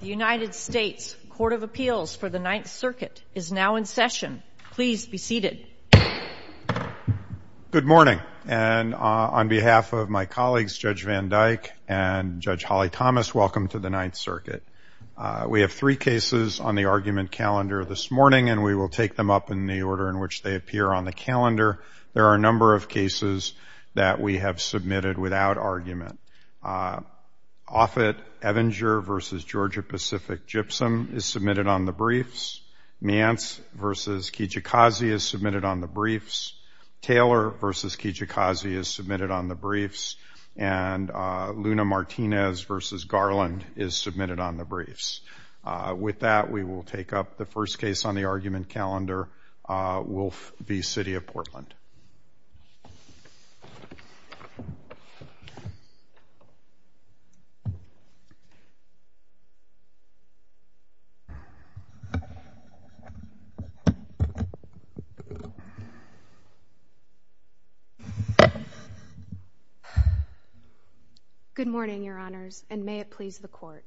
The United States Court of Appeals for the Ninth Circuit is now in session. Please be seated. Good morning, and on behalf of my colleagues Judge Van Dyke and Judge Holly Thomas, welcome to the Ninth Circuit. We have three cases on the argument calendar this morning, and we will take them up in the order in which they appear on the calendar. There are a number of cases that we have submitted without argument. Offit, Evinger v. Georgia Pacific, Gypsum is submitted on the briefs. Miance v. Kijikazi is submitted on the briefs. Taylor v. Kijikazi is submitted on the briefs, and Luna-Martinez v. Garland is submitted on the briefs. With that, we will take up the first case on the argument calendar, Wolfe v. City of Portland. Good morning, Your Honors, and may it please the Court.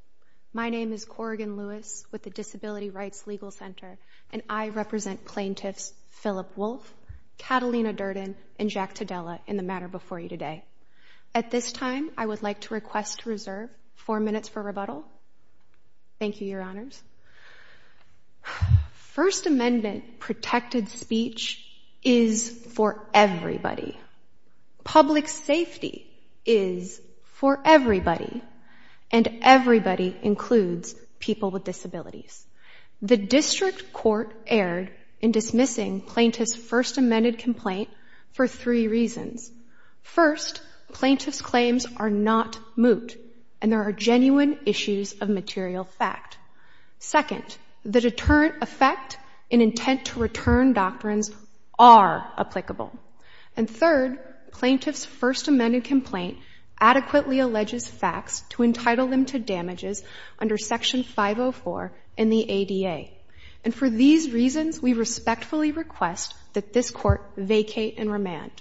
My name is Corrigan Lewis with the Disability Rights Legal Center, and I represent plaintiffs Phillip Wolfe, Catalina Durden, and Jack Tadella in the matter before you today. At this time, I would like to request to reserve four minutes for rebuttal. Thank you, Your Honors. First Amendment protected speech is for everybody. Public safety is for everybody, and everybody includes people with disabilities. The District Court erred in dismissing plaintiff's First Amendment complaint for three reasons. First, plaintiff's claims are not moot, and there are genuine issues of material fact. Second, the deterrent effect and intent to return doctrines are applicable. And third, plaintiff's First Amendment complaint adequately alleges facts to entitle them to damages under Section 504 in the ADA. And for these reasons, we respectfully request that this Court vacate and remand.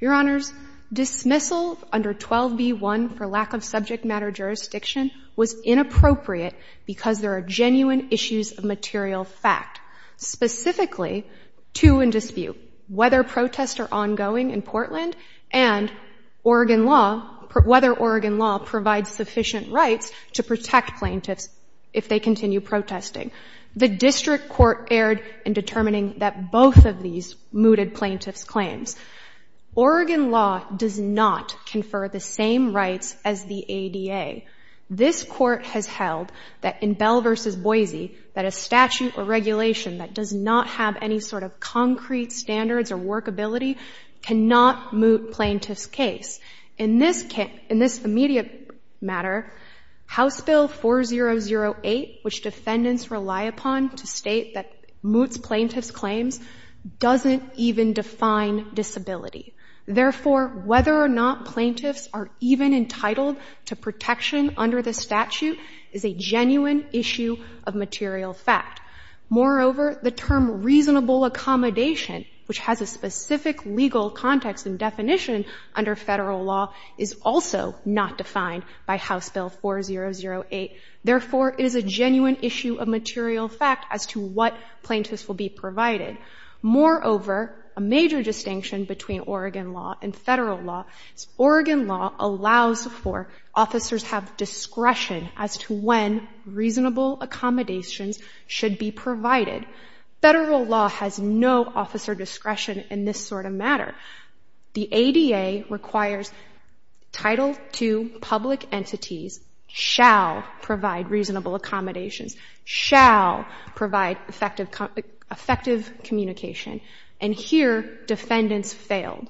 Your Honors, dismissal under 12b1 for lack of subject matter jurisdiction was inappropriate because there are genuine issues of material fact, specifically two in dispute, whether protests are ongoing in Portland and Oregon law, whether Oregon law provides sufficient rights to protect plaintiffs if they continue protesting. The District Court erred in determining that both of these mooted plaintiff's claims. Oregon law does not confer the same rights as the ADA. This Court has held that in Bell v. Boise, that a statute or regulation that does not have any sort of concrete standards or workability cannot moot plaintiff's case. In this immediate matter, House Bill 4008, which defendants rely upon to state that moots plaintiff's claims, doesn't even define disability. Therefore, whether or not plaintiffs are even entitled to protection under the statute is a genuine issue of material fact. Moreover, the term reasonable accommodation, which has a specific legal context and definition under Federal law, is also not defined by House Bill 4008. Therefore, it is a genuine issue of material fact as to what plaintiffs will be provided. Moreover, a major distinction between Oregon law and Federal law is Oregon law allows for officers have discretion as to when reasonable accommodations should be provided. Federal law has no officer discretion in this sort of matter. The ADA requires Title II public entities shall provide reasonable accommodations, shall provide effective communication. And here, defendants failed.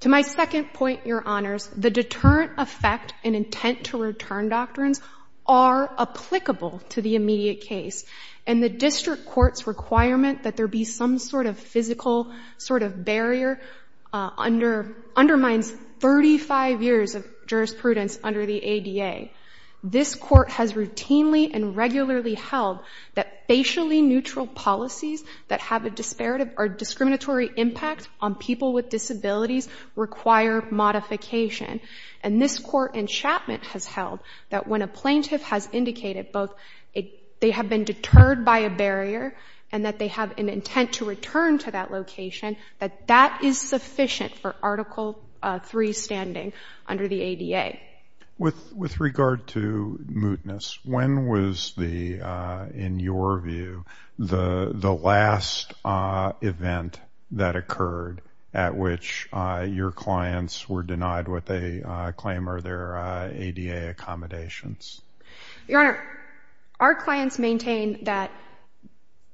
To my second point, Your Honors, the deterrent effect and intent to return doctrines are applicable to the immediate case. And the district court's requirement that there be some sort of physical sort of barrier undermines 35 years of jurisprudence under the ADA. This court has routinely and regularly held that facially neutral policies that have a disparate or discriminatory impact on people with disabilities require modification. And this court in Chapman has held that when a plaintiff has indicated both they have been deterred by a barrier and that they have an intent to return to that location, that that is sufficient for Article III standing under the ADA. With regard to mootness, when was the, in your view, the last event that occurred at which your clients were denied what they claim are their ADA accommodations? Your Honor, our clients maintain that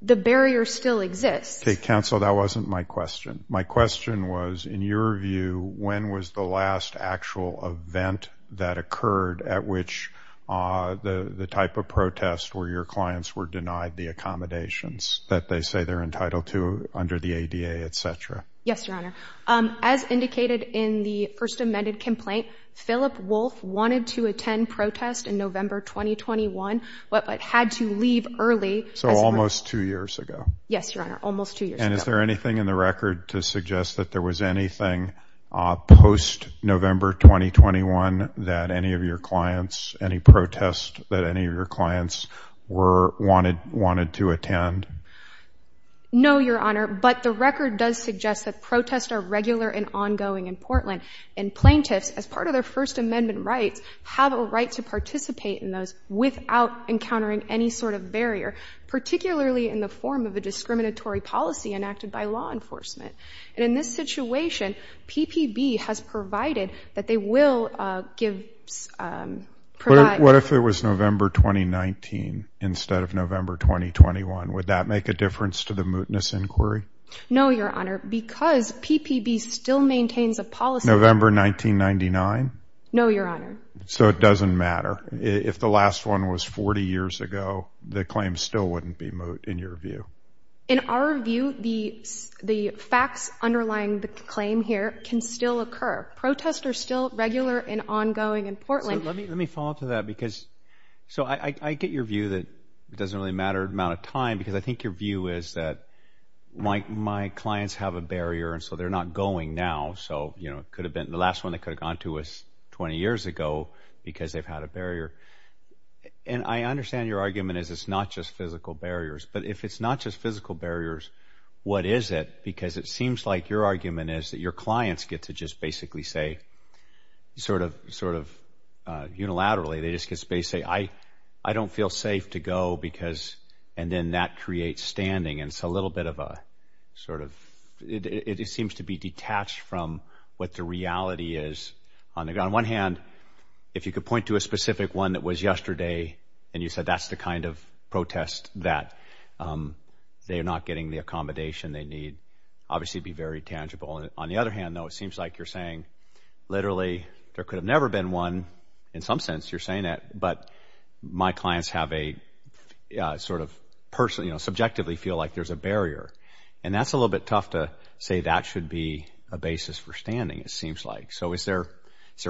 the barrier still exists. Okay, counsel, that wasn't my question. My question was, in your view, when was the last actual event that occurred at which the type of protest where your clients were denied the accommodations that they say they're entitled to under the ADA, et cetera? Yes, Your Honor. As indicated in the first amended complaint, Philip Wolfe wanted to attend protest in November 2021, but had to leave early. So almost two years ago? Yes, Your Honor, almost two years ago. And is there anything in the record to suggest that there was anything post-November 2021 that any of your clients, any protest that any of your clients wanted to attend? No, Your Honor, but the record does suggest that protests are regular and ongoing in Portland, and plaintiffs, as part of their First Amendment rights, have a right to participate in those without encountering any sort of barrier, particularly in the form of a discriminatory policy enacted by law enforcement. And in this situation, PPB has provided that they will give... What if it was November 2019 instead of November 2021? Would that make a difference to the mootness inquiry? No, Your Honor, because PPB still maintains a policy... November 1999? No, Your Honor. So it doesn't matter. If the last one was 40 years ago, the claim still wouldn't be moot, in your view? In our view, the facts underlying the claim here can still occur. Protests are still regular and ongoing in Portland. Let me follow up to that. So I get your view that it doesn't really matter the amount of time, because I think your view is that my clients have a barrier, and so they're not going now. So the last one they could have gone to was 20 years ago, because they've had a barrier. And I understand your argument is it's not just physical barriers. But if it's not just physical barriers, what is it? Because it seems like your argument is that your clients get to basically say, unilaterally, they just basically say, I don't feel safe to go, and then that creates standing. And it's a little bit of a... It seems to be detached from what the reality is. On one hand, if you could point to a specific one that was yesterday, and you said that's the kind of protest that they're not getting the accommodation they need, obviously be very tangible. On the other hand, though, it seems like you're saying, literally, there could have never been one, in some sense, you're saying that, but my clients subjectively feel like there's a barrier. And that's a little bit tough to say that should be a basis for standing, it seems like. So is there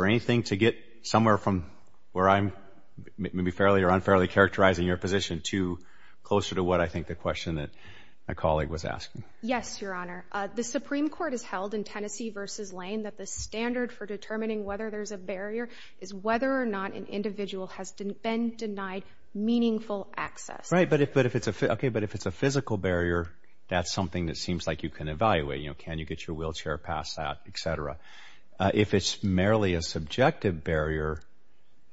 anything to get somewhere from where I'm maybe fairly or unfairly characterizing your position to closer to what I think the question that my colleague was asking? Yes, Your Honor. The Supreme Court has held in Tennessee versus Lane that the standard for determining whether there's a barrier is whether or not an individual has been denied meaningful access. Right. But if it's a physical barrier, that's something that seems like you can evaluate. Can you get your wheelchair past that, et cetera. If it's merely a subjective barrier,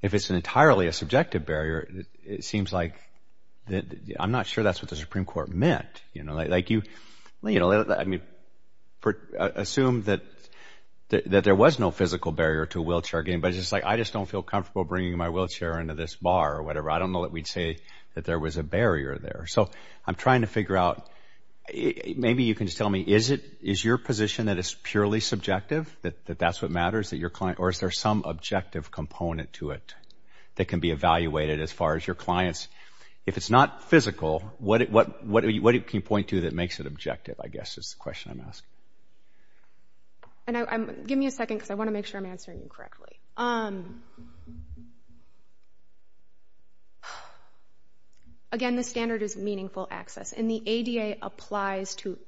if it's entirely a subjective barrier, it seems like, I'm not sure that's what the Supreme Court meant. Assume that there was no physical barrier to a wheelchair game, but it's just like, I just don't feel comfortable bringing my wheelchair into this bar or whatever. I don't know that we'd say that there was a barrier there. So I'm trying to figure out, maybe you can just tell me, is your position that is purely subjective, that that's what matters, or is there some objective component to it that can be evaluated as far as your clients? If it's not physical, what can you point to that makes it objective, I guess, is the question I'm asking. Give me a second, because I want to make sure I'm answering you correctly. Again, the standard is meaningful access, and the ADA applies to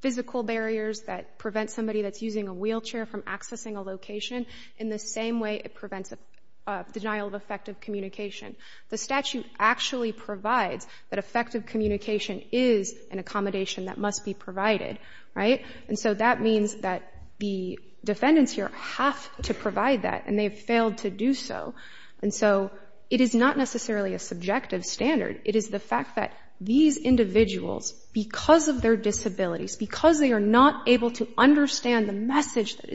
physical barriers that prevent somebody that's using a wheelchair from accessing a The statute actually provides that effective communication is an accommodation that must be provided, right? And so that means that the defendants here have to provide that, and they've failed to do so. And so it is not necessarily a subjective standard. It is the fact that these individuals, because of their disabilities, because they are not able to understand the message that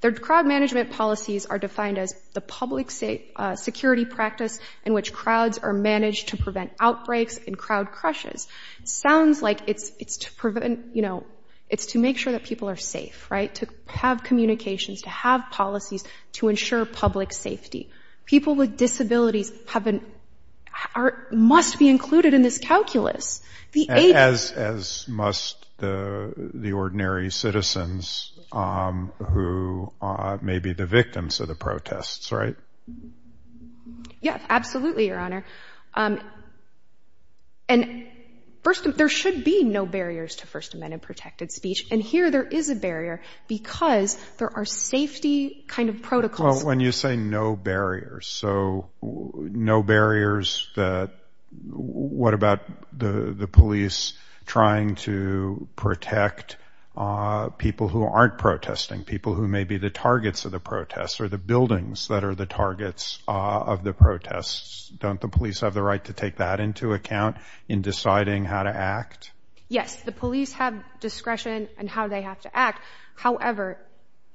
Their crowd management policies are defined as the public security practice in which crowds are managed to prevent outbreaks and crowd crushes. Sounds like it's to make sure that people are safe, right? To have communications, to have policies to ensure public safety. People disabilities must be included in this calculus. As must the ordinary citizens who may be the victims of the protests, right? Yeah, absolutely, Your Honor. And first, there should be no barriers to First Amendment protected speech. And here, there is a barrier because there are safety kind of protocols. When you say no barriers, so no barriers, what about the police trying to protect people who aren't protesting, people who may be the targets of the protests or the buildings that are the targets of the protests? Don't the police have the right to take that into account in deciding how to act? Yes, the police have discretion and how they have to act. However,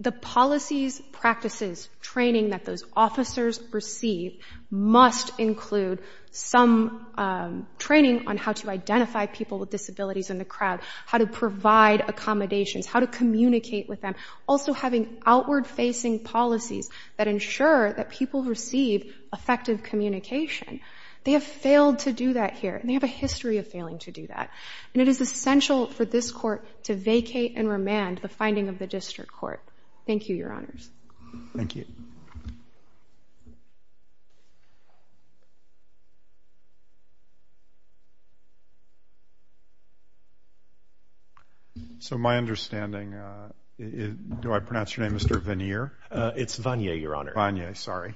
the policies, practices, training that those officers receive must include some training on how to identify people with disabilities in the crowd, how to provide accommodations, how to communicate with them. Also having outward-facing policies that ensure that people receive effective communication. They have failed to do that here. And they have a history of failing to do that. And it is essential for this court to vacate and remand the finding of the District Court. Thank you, Your Honors. Thank you. So my understanding, do I pronounce your name Mr. Vannier? It's Vannier, Your Honor. Vannier, sorry.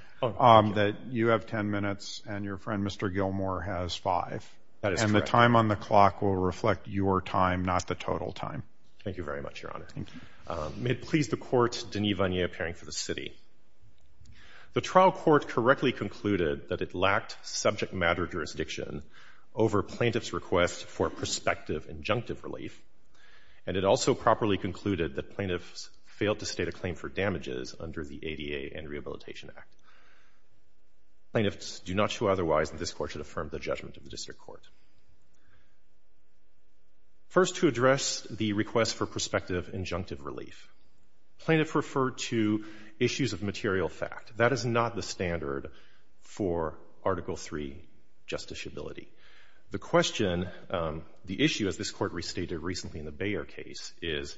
You have 10 minutes and your friend Mr. Gilmour has five. And the time on the clock will please the court, Denis Vannier, appearing for the city. The trial court correctly concluded that it lacked subject matter jurisdiction over plaintiff's request for prospective injunctive relief. And it also properly concluded that plaintiffs failed to state a claim for damages under the ADA and Rehabilitation Act. Plaintiffs do not show otherwise that this court should affirm the judgment of the District Court. First to address the request for prospective injunctive relief, plaintiff referred to issues of material fact. That is not the standard for Article III justiciability. The question, the issue as this court restated recently in the Bayer case is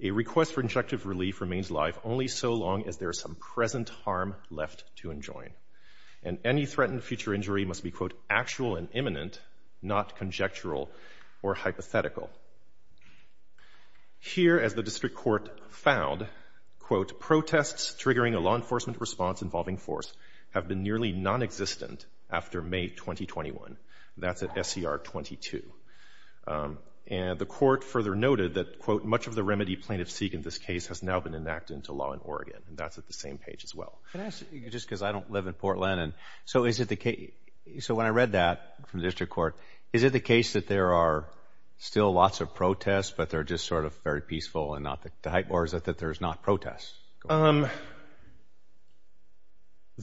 a request for injunctive relief remains live only so long as there is some present harm left to enjoin. And any threatened future injury must be, quote, actual and imminent, not conjectural or hypothetical. Here, as the District Court found, quote, protests triggering a law enforcement response involving force have been nearly nonexistent after May 2021. That's at SCR 22. And the court further noted that, quote, much of the remedy plaintiffs seek in this case has now been enacted into law in Oregon. And that's at the same page as well. Can I ask you, just because I don't live in Portland, and so is it the case, so when I read that from the District Court, is it the case that there are still lots of protests, but they're just sort of very peaceful and not the hype, or is it that there's not protests? There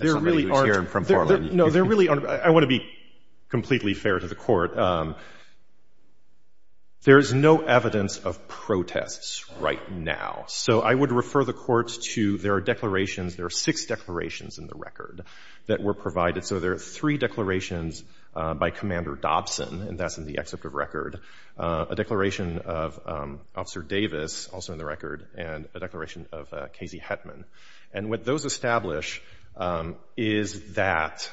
really aren't. No, there really aren't. I want to be completely fair to the court. There is no evidence of protests right now. So I that were provided. So there are three declarations by Commander Dobson, and that's in the excerpt of record, a declaration of Officer Davis, also in the record, and a declaration of Casey Hetman. And what those establish is that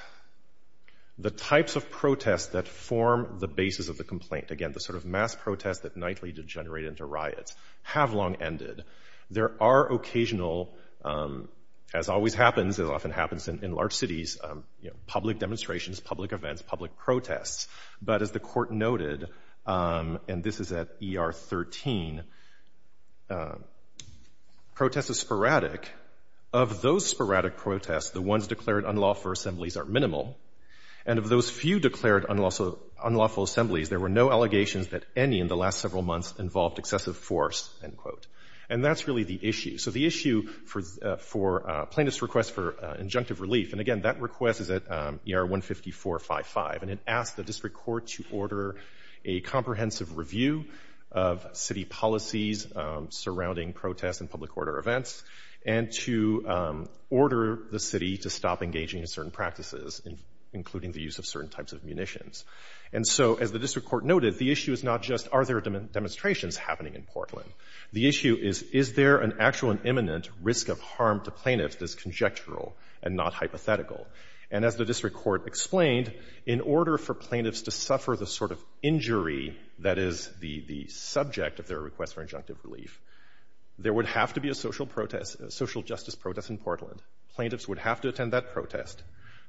the types of protests that form the basis of the complaint, again, the sort of mass protests that nightly degenerate into riots, have long ended. There are occasional, as always happens, it often happens in large cities, public demonstrations, public events, public protests. But as the court noted, and this is at ER 13, protests are sporadic. Of those sporadic protests, the ones declared unlawful assemblies are minimal. And of those few declared unlawful assemblies, there were no allegations that any in the last several months involved excessive force, end quote. And that's really the issue. So the issue for plaintiff's request for injunctive relief, and again, that request is at ER 15455, and it asked the district court to order a comprehensive review of city policies surrounding protests and public order events, and to order the city to stop engaging in certain practices, including the use of certain types of munitions. And so, as the district court noted, the issue is not just are there demonstrations happening in Portland? The issue is, is there an actual and imminent risk of harm to plaintiffs that's conjectural and not hypothetical? And as the district court explained, in order for plaintiffs to suffer the sort of injury that is the subject of their request for injunctive relief, there would have to be a social justice protest in Portland. Plaintiffs would have to attend that protest.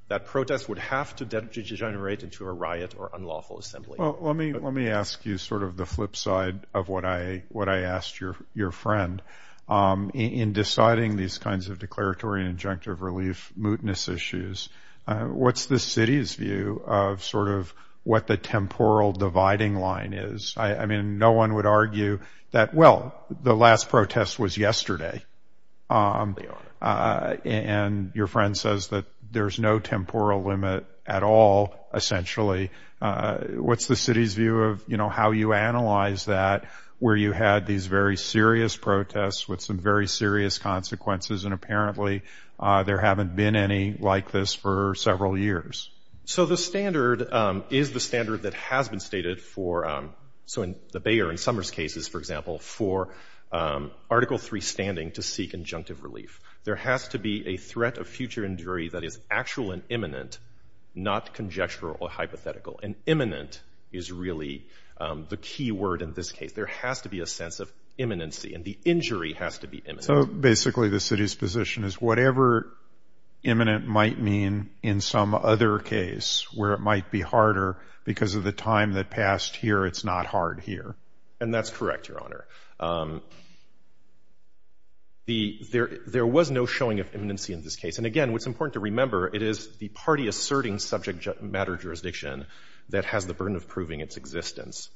That protest would have to degenerate into a riot or unlawful assembly. Well, let me ask you sort of the flip side of what I asked your friend. In deciding these kinds of declaratory and injunctive relief mootness issues, what's the city's view of sort of what the temporal dividing line is? I mean, no one would argue that, well, the last protest was yesterday. They are. And your friend says that there's no temporal limit at all, essentially. What's the city's view of, you know, how you analyze that where you had these very serious protests with some very serious consequences and apparently there haven't been any like this for several years? So the standard is the standard that has been stated for, so in the Bayer and Summers cases, for example, for Article III standing to seek injunctive relief. There has to be a threat of future injury that is actual and imminent, not conjectural or hypothetical. And imminent is really the key word in this case. There has to be a sense of imminency and the injury has to be imminent. So basically the city's position is whatever imminent might mean in some other case where it passed here, it's not hard here. And that's correct, Your Honor. There was no showing of imminency in this case. And again, what's important to remember, it is the party asserting subject matter jurisdiction that has the burden of proving its existence.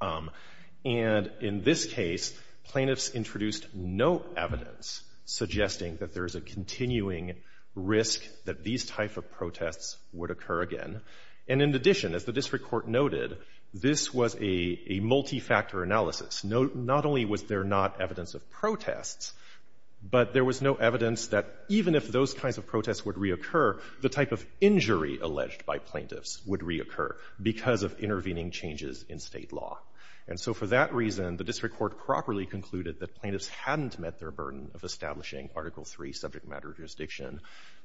And in this case, plaintiffs introduced no evidence suggesting that there is a continuing risk that these type of protests would occur again. And in addition, as the this was a multi-factor analysis. Not only was there not evidence of protests, but there was no evidence that even if those kinds of protests would reoccur, the type of injury alleged by plaintiffs would reoccur because of intervening changes in state law. And so for that reason, the district court properly concluded that plaintiffs hadn't met their burden of establishing Article III subject matter jurisdiction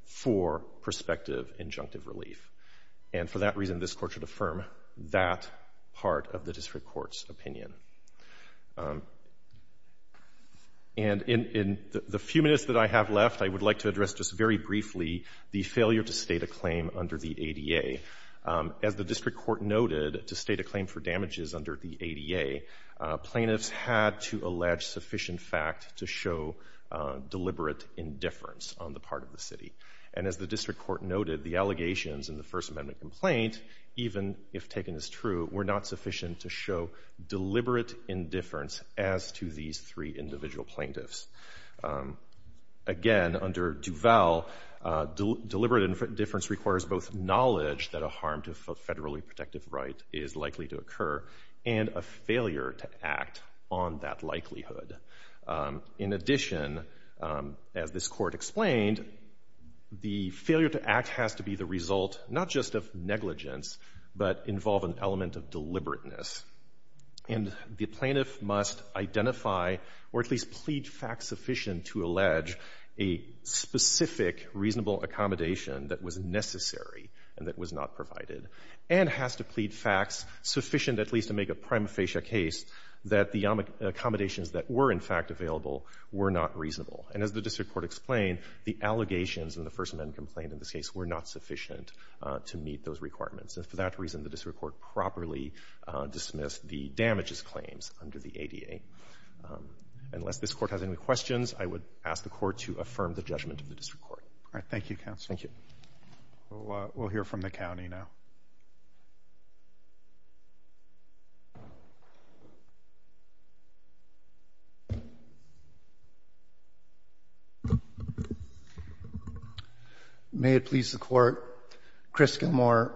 for prospective injunctive relief. And for that reason, this court should affirm that part of the district court's opinion. And in the few minutes that I have left, I would like to address just very briefly the failure to state a claim under the ADA. As the district court noted to state a claim for damages under the ADA, plaintiffs had to allege sufficient fact to show deliberate indifference on the part of the city. And as the district court noted, the allegations in the First Amendment complaint, even if taken as true, were not sufficient to show deliberate indifference as to these three individual plaintiffs. Again, under Duval, deliberate indifference requires both knowledge that a harm to federally protective right is likely to occur and a failure to act on that likelihood. In addition, as this court explained, the failure to act has to be the result not just of negligence, but involve an element of deliberateness. And the plaintiff must identify or at least plead facts sufficient to allege a specific reasonable accommodation that was necessary and that was not provided, and has to plead facts sufficient at least to make a prima facie case that the accommodations that were in fact available were not reasonable. And as the district court explained, the allegations in the First Amendment complaint in this case were not sufficient to meet those requirements. And for that reason, the district court properly dismissed the damages claims under the ADA. Unless this court has any questions, I would ask the court to affirm the judgment of the district court. All right. Thank you, counsel. Thank you. We'll hear from the county now. May it please the court. Chris Gilmore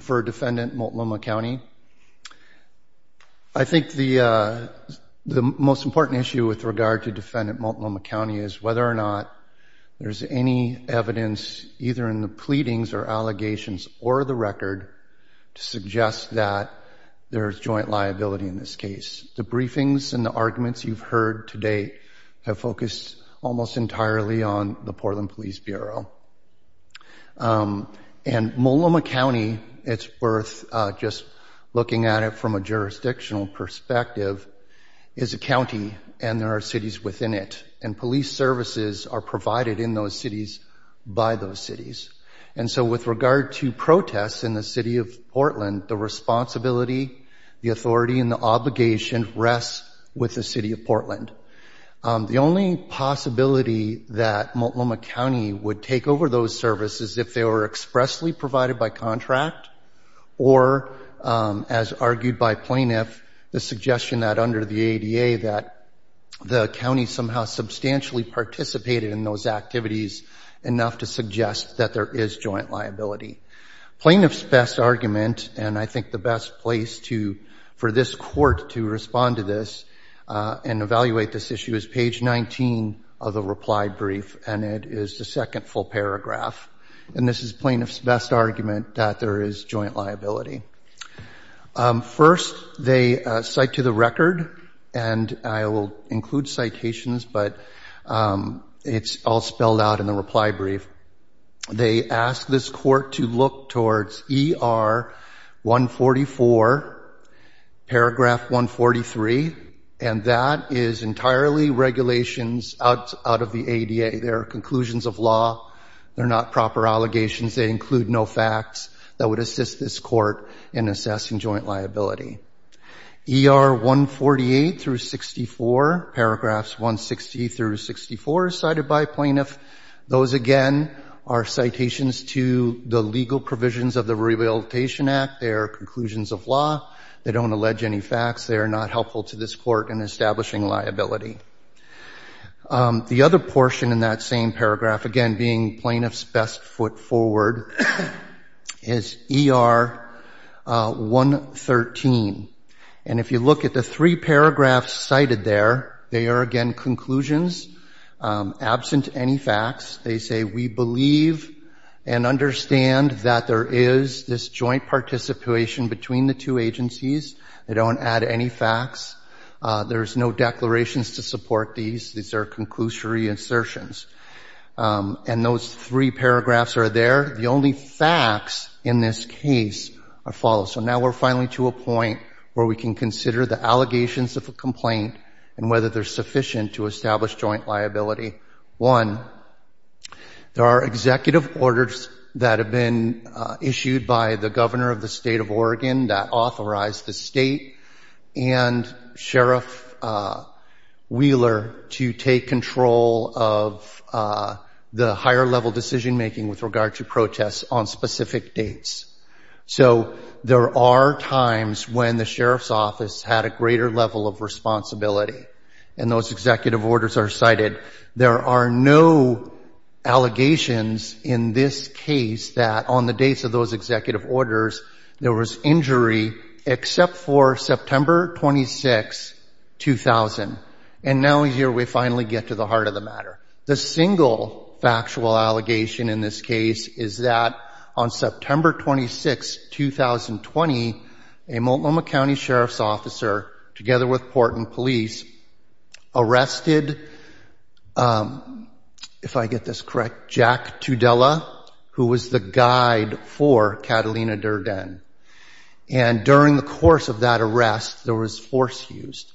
for defendant Multnomah County. I think the most important issue with regard to defendant Multnomah County is whether or not there's any evidence either in the pleadings or allegations or the record to suggest that there is joint liability in this case. The briefings and the arguments you've heard today have focused almost entirely on the Portland Police Bureau. And Multnomah County, it's worth just looking at it from a jurisdictional perspective, is a county and there are cities within it. And police services are provided in those cities by those cities. And so with regard to protests in the city of Portland, the responsibility, the authority and the obligation rests with the city of Portland. The only possibility that Multnomah County would take over those services if they were expressly provided by the city of Portland. And we've seen that under the ADA, that the county somehow substantially participated in those activities enough to suggest that there is joint liability. Plaintiff's best argument, and I think the best place for this court to respond to this and evaluate this issue, is page 19 of the reply brief. And it is the second full paragraph. And this is plaintiff's best argument that there is joint liability. First, they cite to the record, and I will include citations, but it's all spelled out in the reply brief. They ask this court to look towards ER 144, paragraph 143, and that is entirely regulations out of the ADA. They are conclusions of law. They're not proper allegations. They include no facts that would assist this court in assessing joint liability. ER 148 through 64, paragraphs 160 through 64, cited by plaintiff, those again are citations to the legal provisions of the Rehabilitation Act. They are conclusions of law. They don't allege any facts. They are not helpful to this court in establishing liability. The other portion in that same paragraph, again being plaintiff's best foot forward, is ER 113. And if you look at the three paragraphs cited there, they are again conclusions, absent any facts. They say we believe and understand that there is this joint participation between the two agencies. They don't add any facts. There's no declarations to support these. These are conclusory insertions. And those three paragraphs are there. The only facts in this case are followed. So now we're finally to a point where we can consider the allegations of a complaint and whether they're sufficient to establish joint liability. One, there are executive orders that have been issued by the governor of the state of Oregon that authorize the state and Sheriff Wheeler to take control of the higher level decision making with regard to protests on specific dates. So there are times when the sheriff's office had a greater level of responsibility. And those executive orders, there was injury except for September 26, 2000. And now here we finally get to the heart of the matter. The single factual allegation in this case is that on September 26, 2020, a Multnomah County Sheriff's Officer, together with Porton Police, arrested, if I get this correct, Jack Catalina Durden. And during the course of that arrest, there was force used.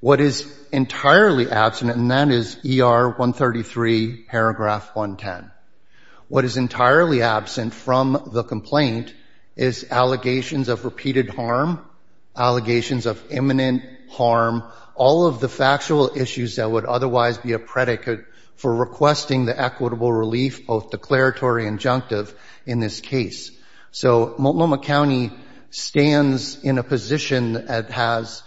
What is entirely absent, and that is ER 133 paragraph 110. What is entirely absent from the complaint is allegations of repeated harm, allegations of imminent harm, all of the factual issues that would otherwise be a predicate for requesting the equitable relief, both declaratory and injunctive in this case. So Multnomah County stands in a position that has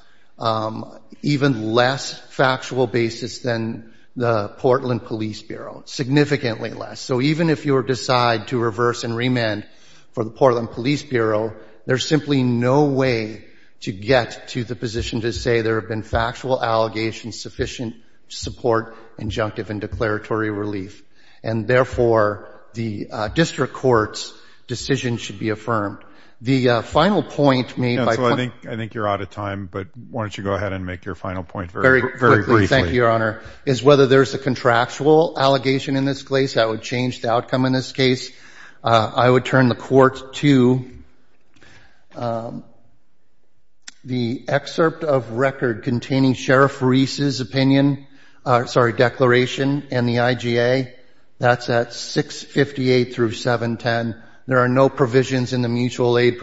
even less factual basis than the Portland Police Bureau, significantly less. So even if you decide to reverse and remand for the Portland Police Bureau, there's simply no way to get to the position to say there have been factual allegations sufficient to support injunctive and declaratory relief. And therefore, the district court's decision should be affirmed. The final point made by... So I think you're out of time, but why don't you go ahead and make your final point very briefly. Thank you, Your Honor. Is whether there's a contractual allegation in this case, that would change the outcome in this case. I would turn the court to the excerpt of record containing Sheriff Reese's opinion, sorry, declaration and the IGA. That's at 658 through 710. There are no provisions in the mutual aid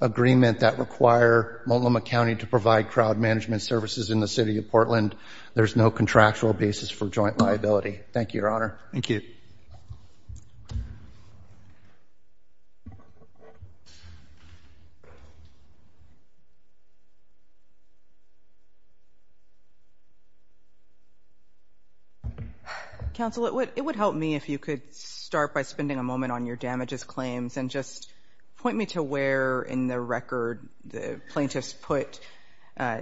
agreement that require Multnomah County to provide crowd management services in the city of Portland. There's no contractual basis for joint liability. Thank you, Your Honor. Thank you. Counsel, it would help me if you could start by spending a moment on your damages claims and just point me to where in the record the plaintiffs put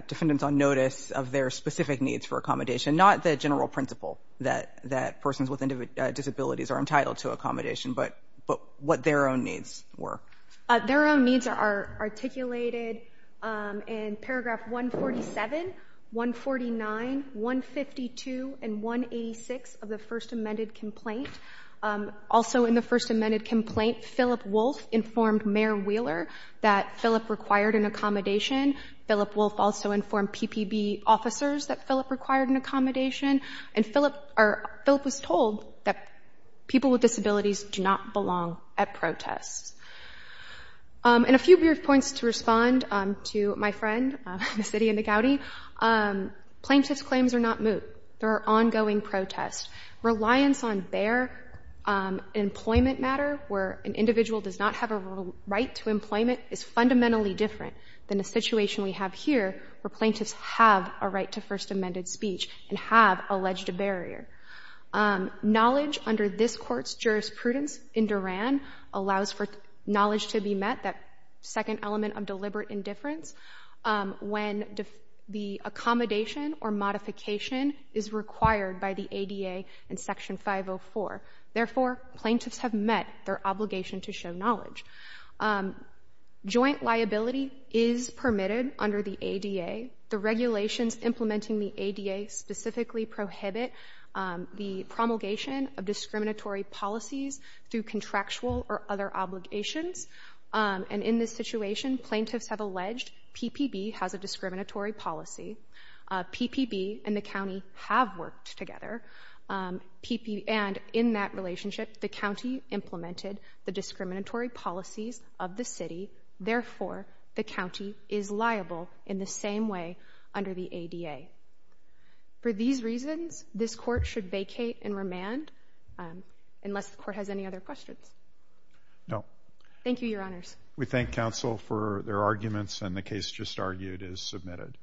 defendants on notice of their specific needs for accommodation, not the general principle that persons with disabilities are entitled to articulated in paragraph 147, 149, 152, and 186 of the first amended complaint. Also in the first amended complaint, Philip Wolfe informed Mayor Wheeler that Philip required an accommodation. Philip Wolfe also informed PPB officers that Philip required an accommodation, and Philip was told that people with disabilities do not belong at protests. And a few points to respond to my friend, the city of McGowdy. Plaintiffs' claims are not moot. There are ongoing protests. Reliance on their employment matter where an individual does not have a right to employment is fundamentally different than the situation we have here where plaintiffs have a right to first amended speech and have alleged a barrier. Knowledge under this court's jurisprudence in Duran allows for knowledge to be met, that second element of deliberate indifference, when the accommodation or modification is required by the ADA in section 504. Therefore, plaintiffs have met their obligation to show knowledge. Joint liability is permitted under the ADA. The regulations implementing the ADA specifically prohibit the promulgation of discriminatory policies through contractual or other obligations, and in this situation, plaintiffs have alleged PPB has a discriminatory policy, PPB and the county have worked together, and in that relationship, the county implemented the discriminatory policies of the city. Therefore, the county is liable in the same way under the ADA. For these reasons, this court should vacate and remand unless the court has any other questions. Thank you, your honors. We thank counsel for their arguments and the case just argued is submitted.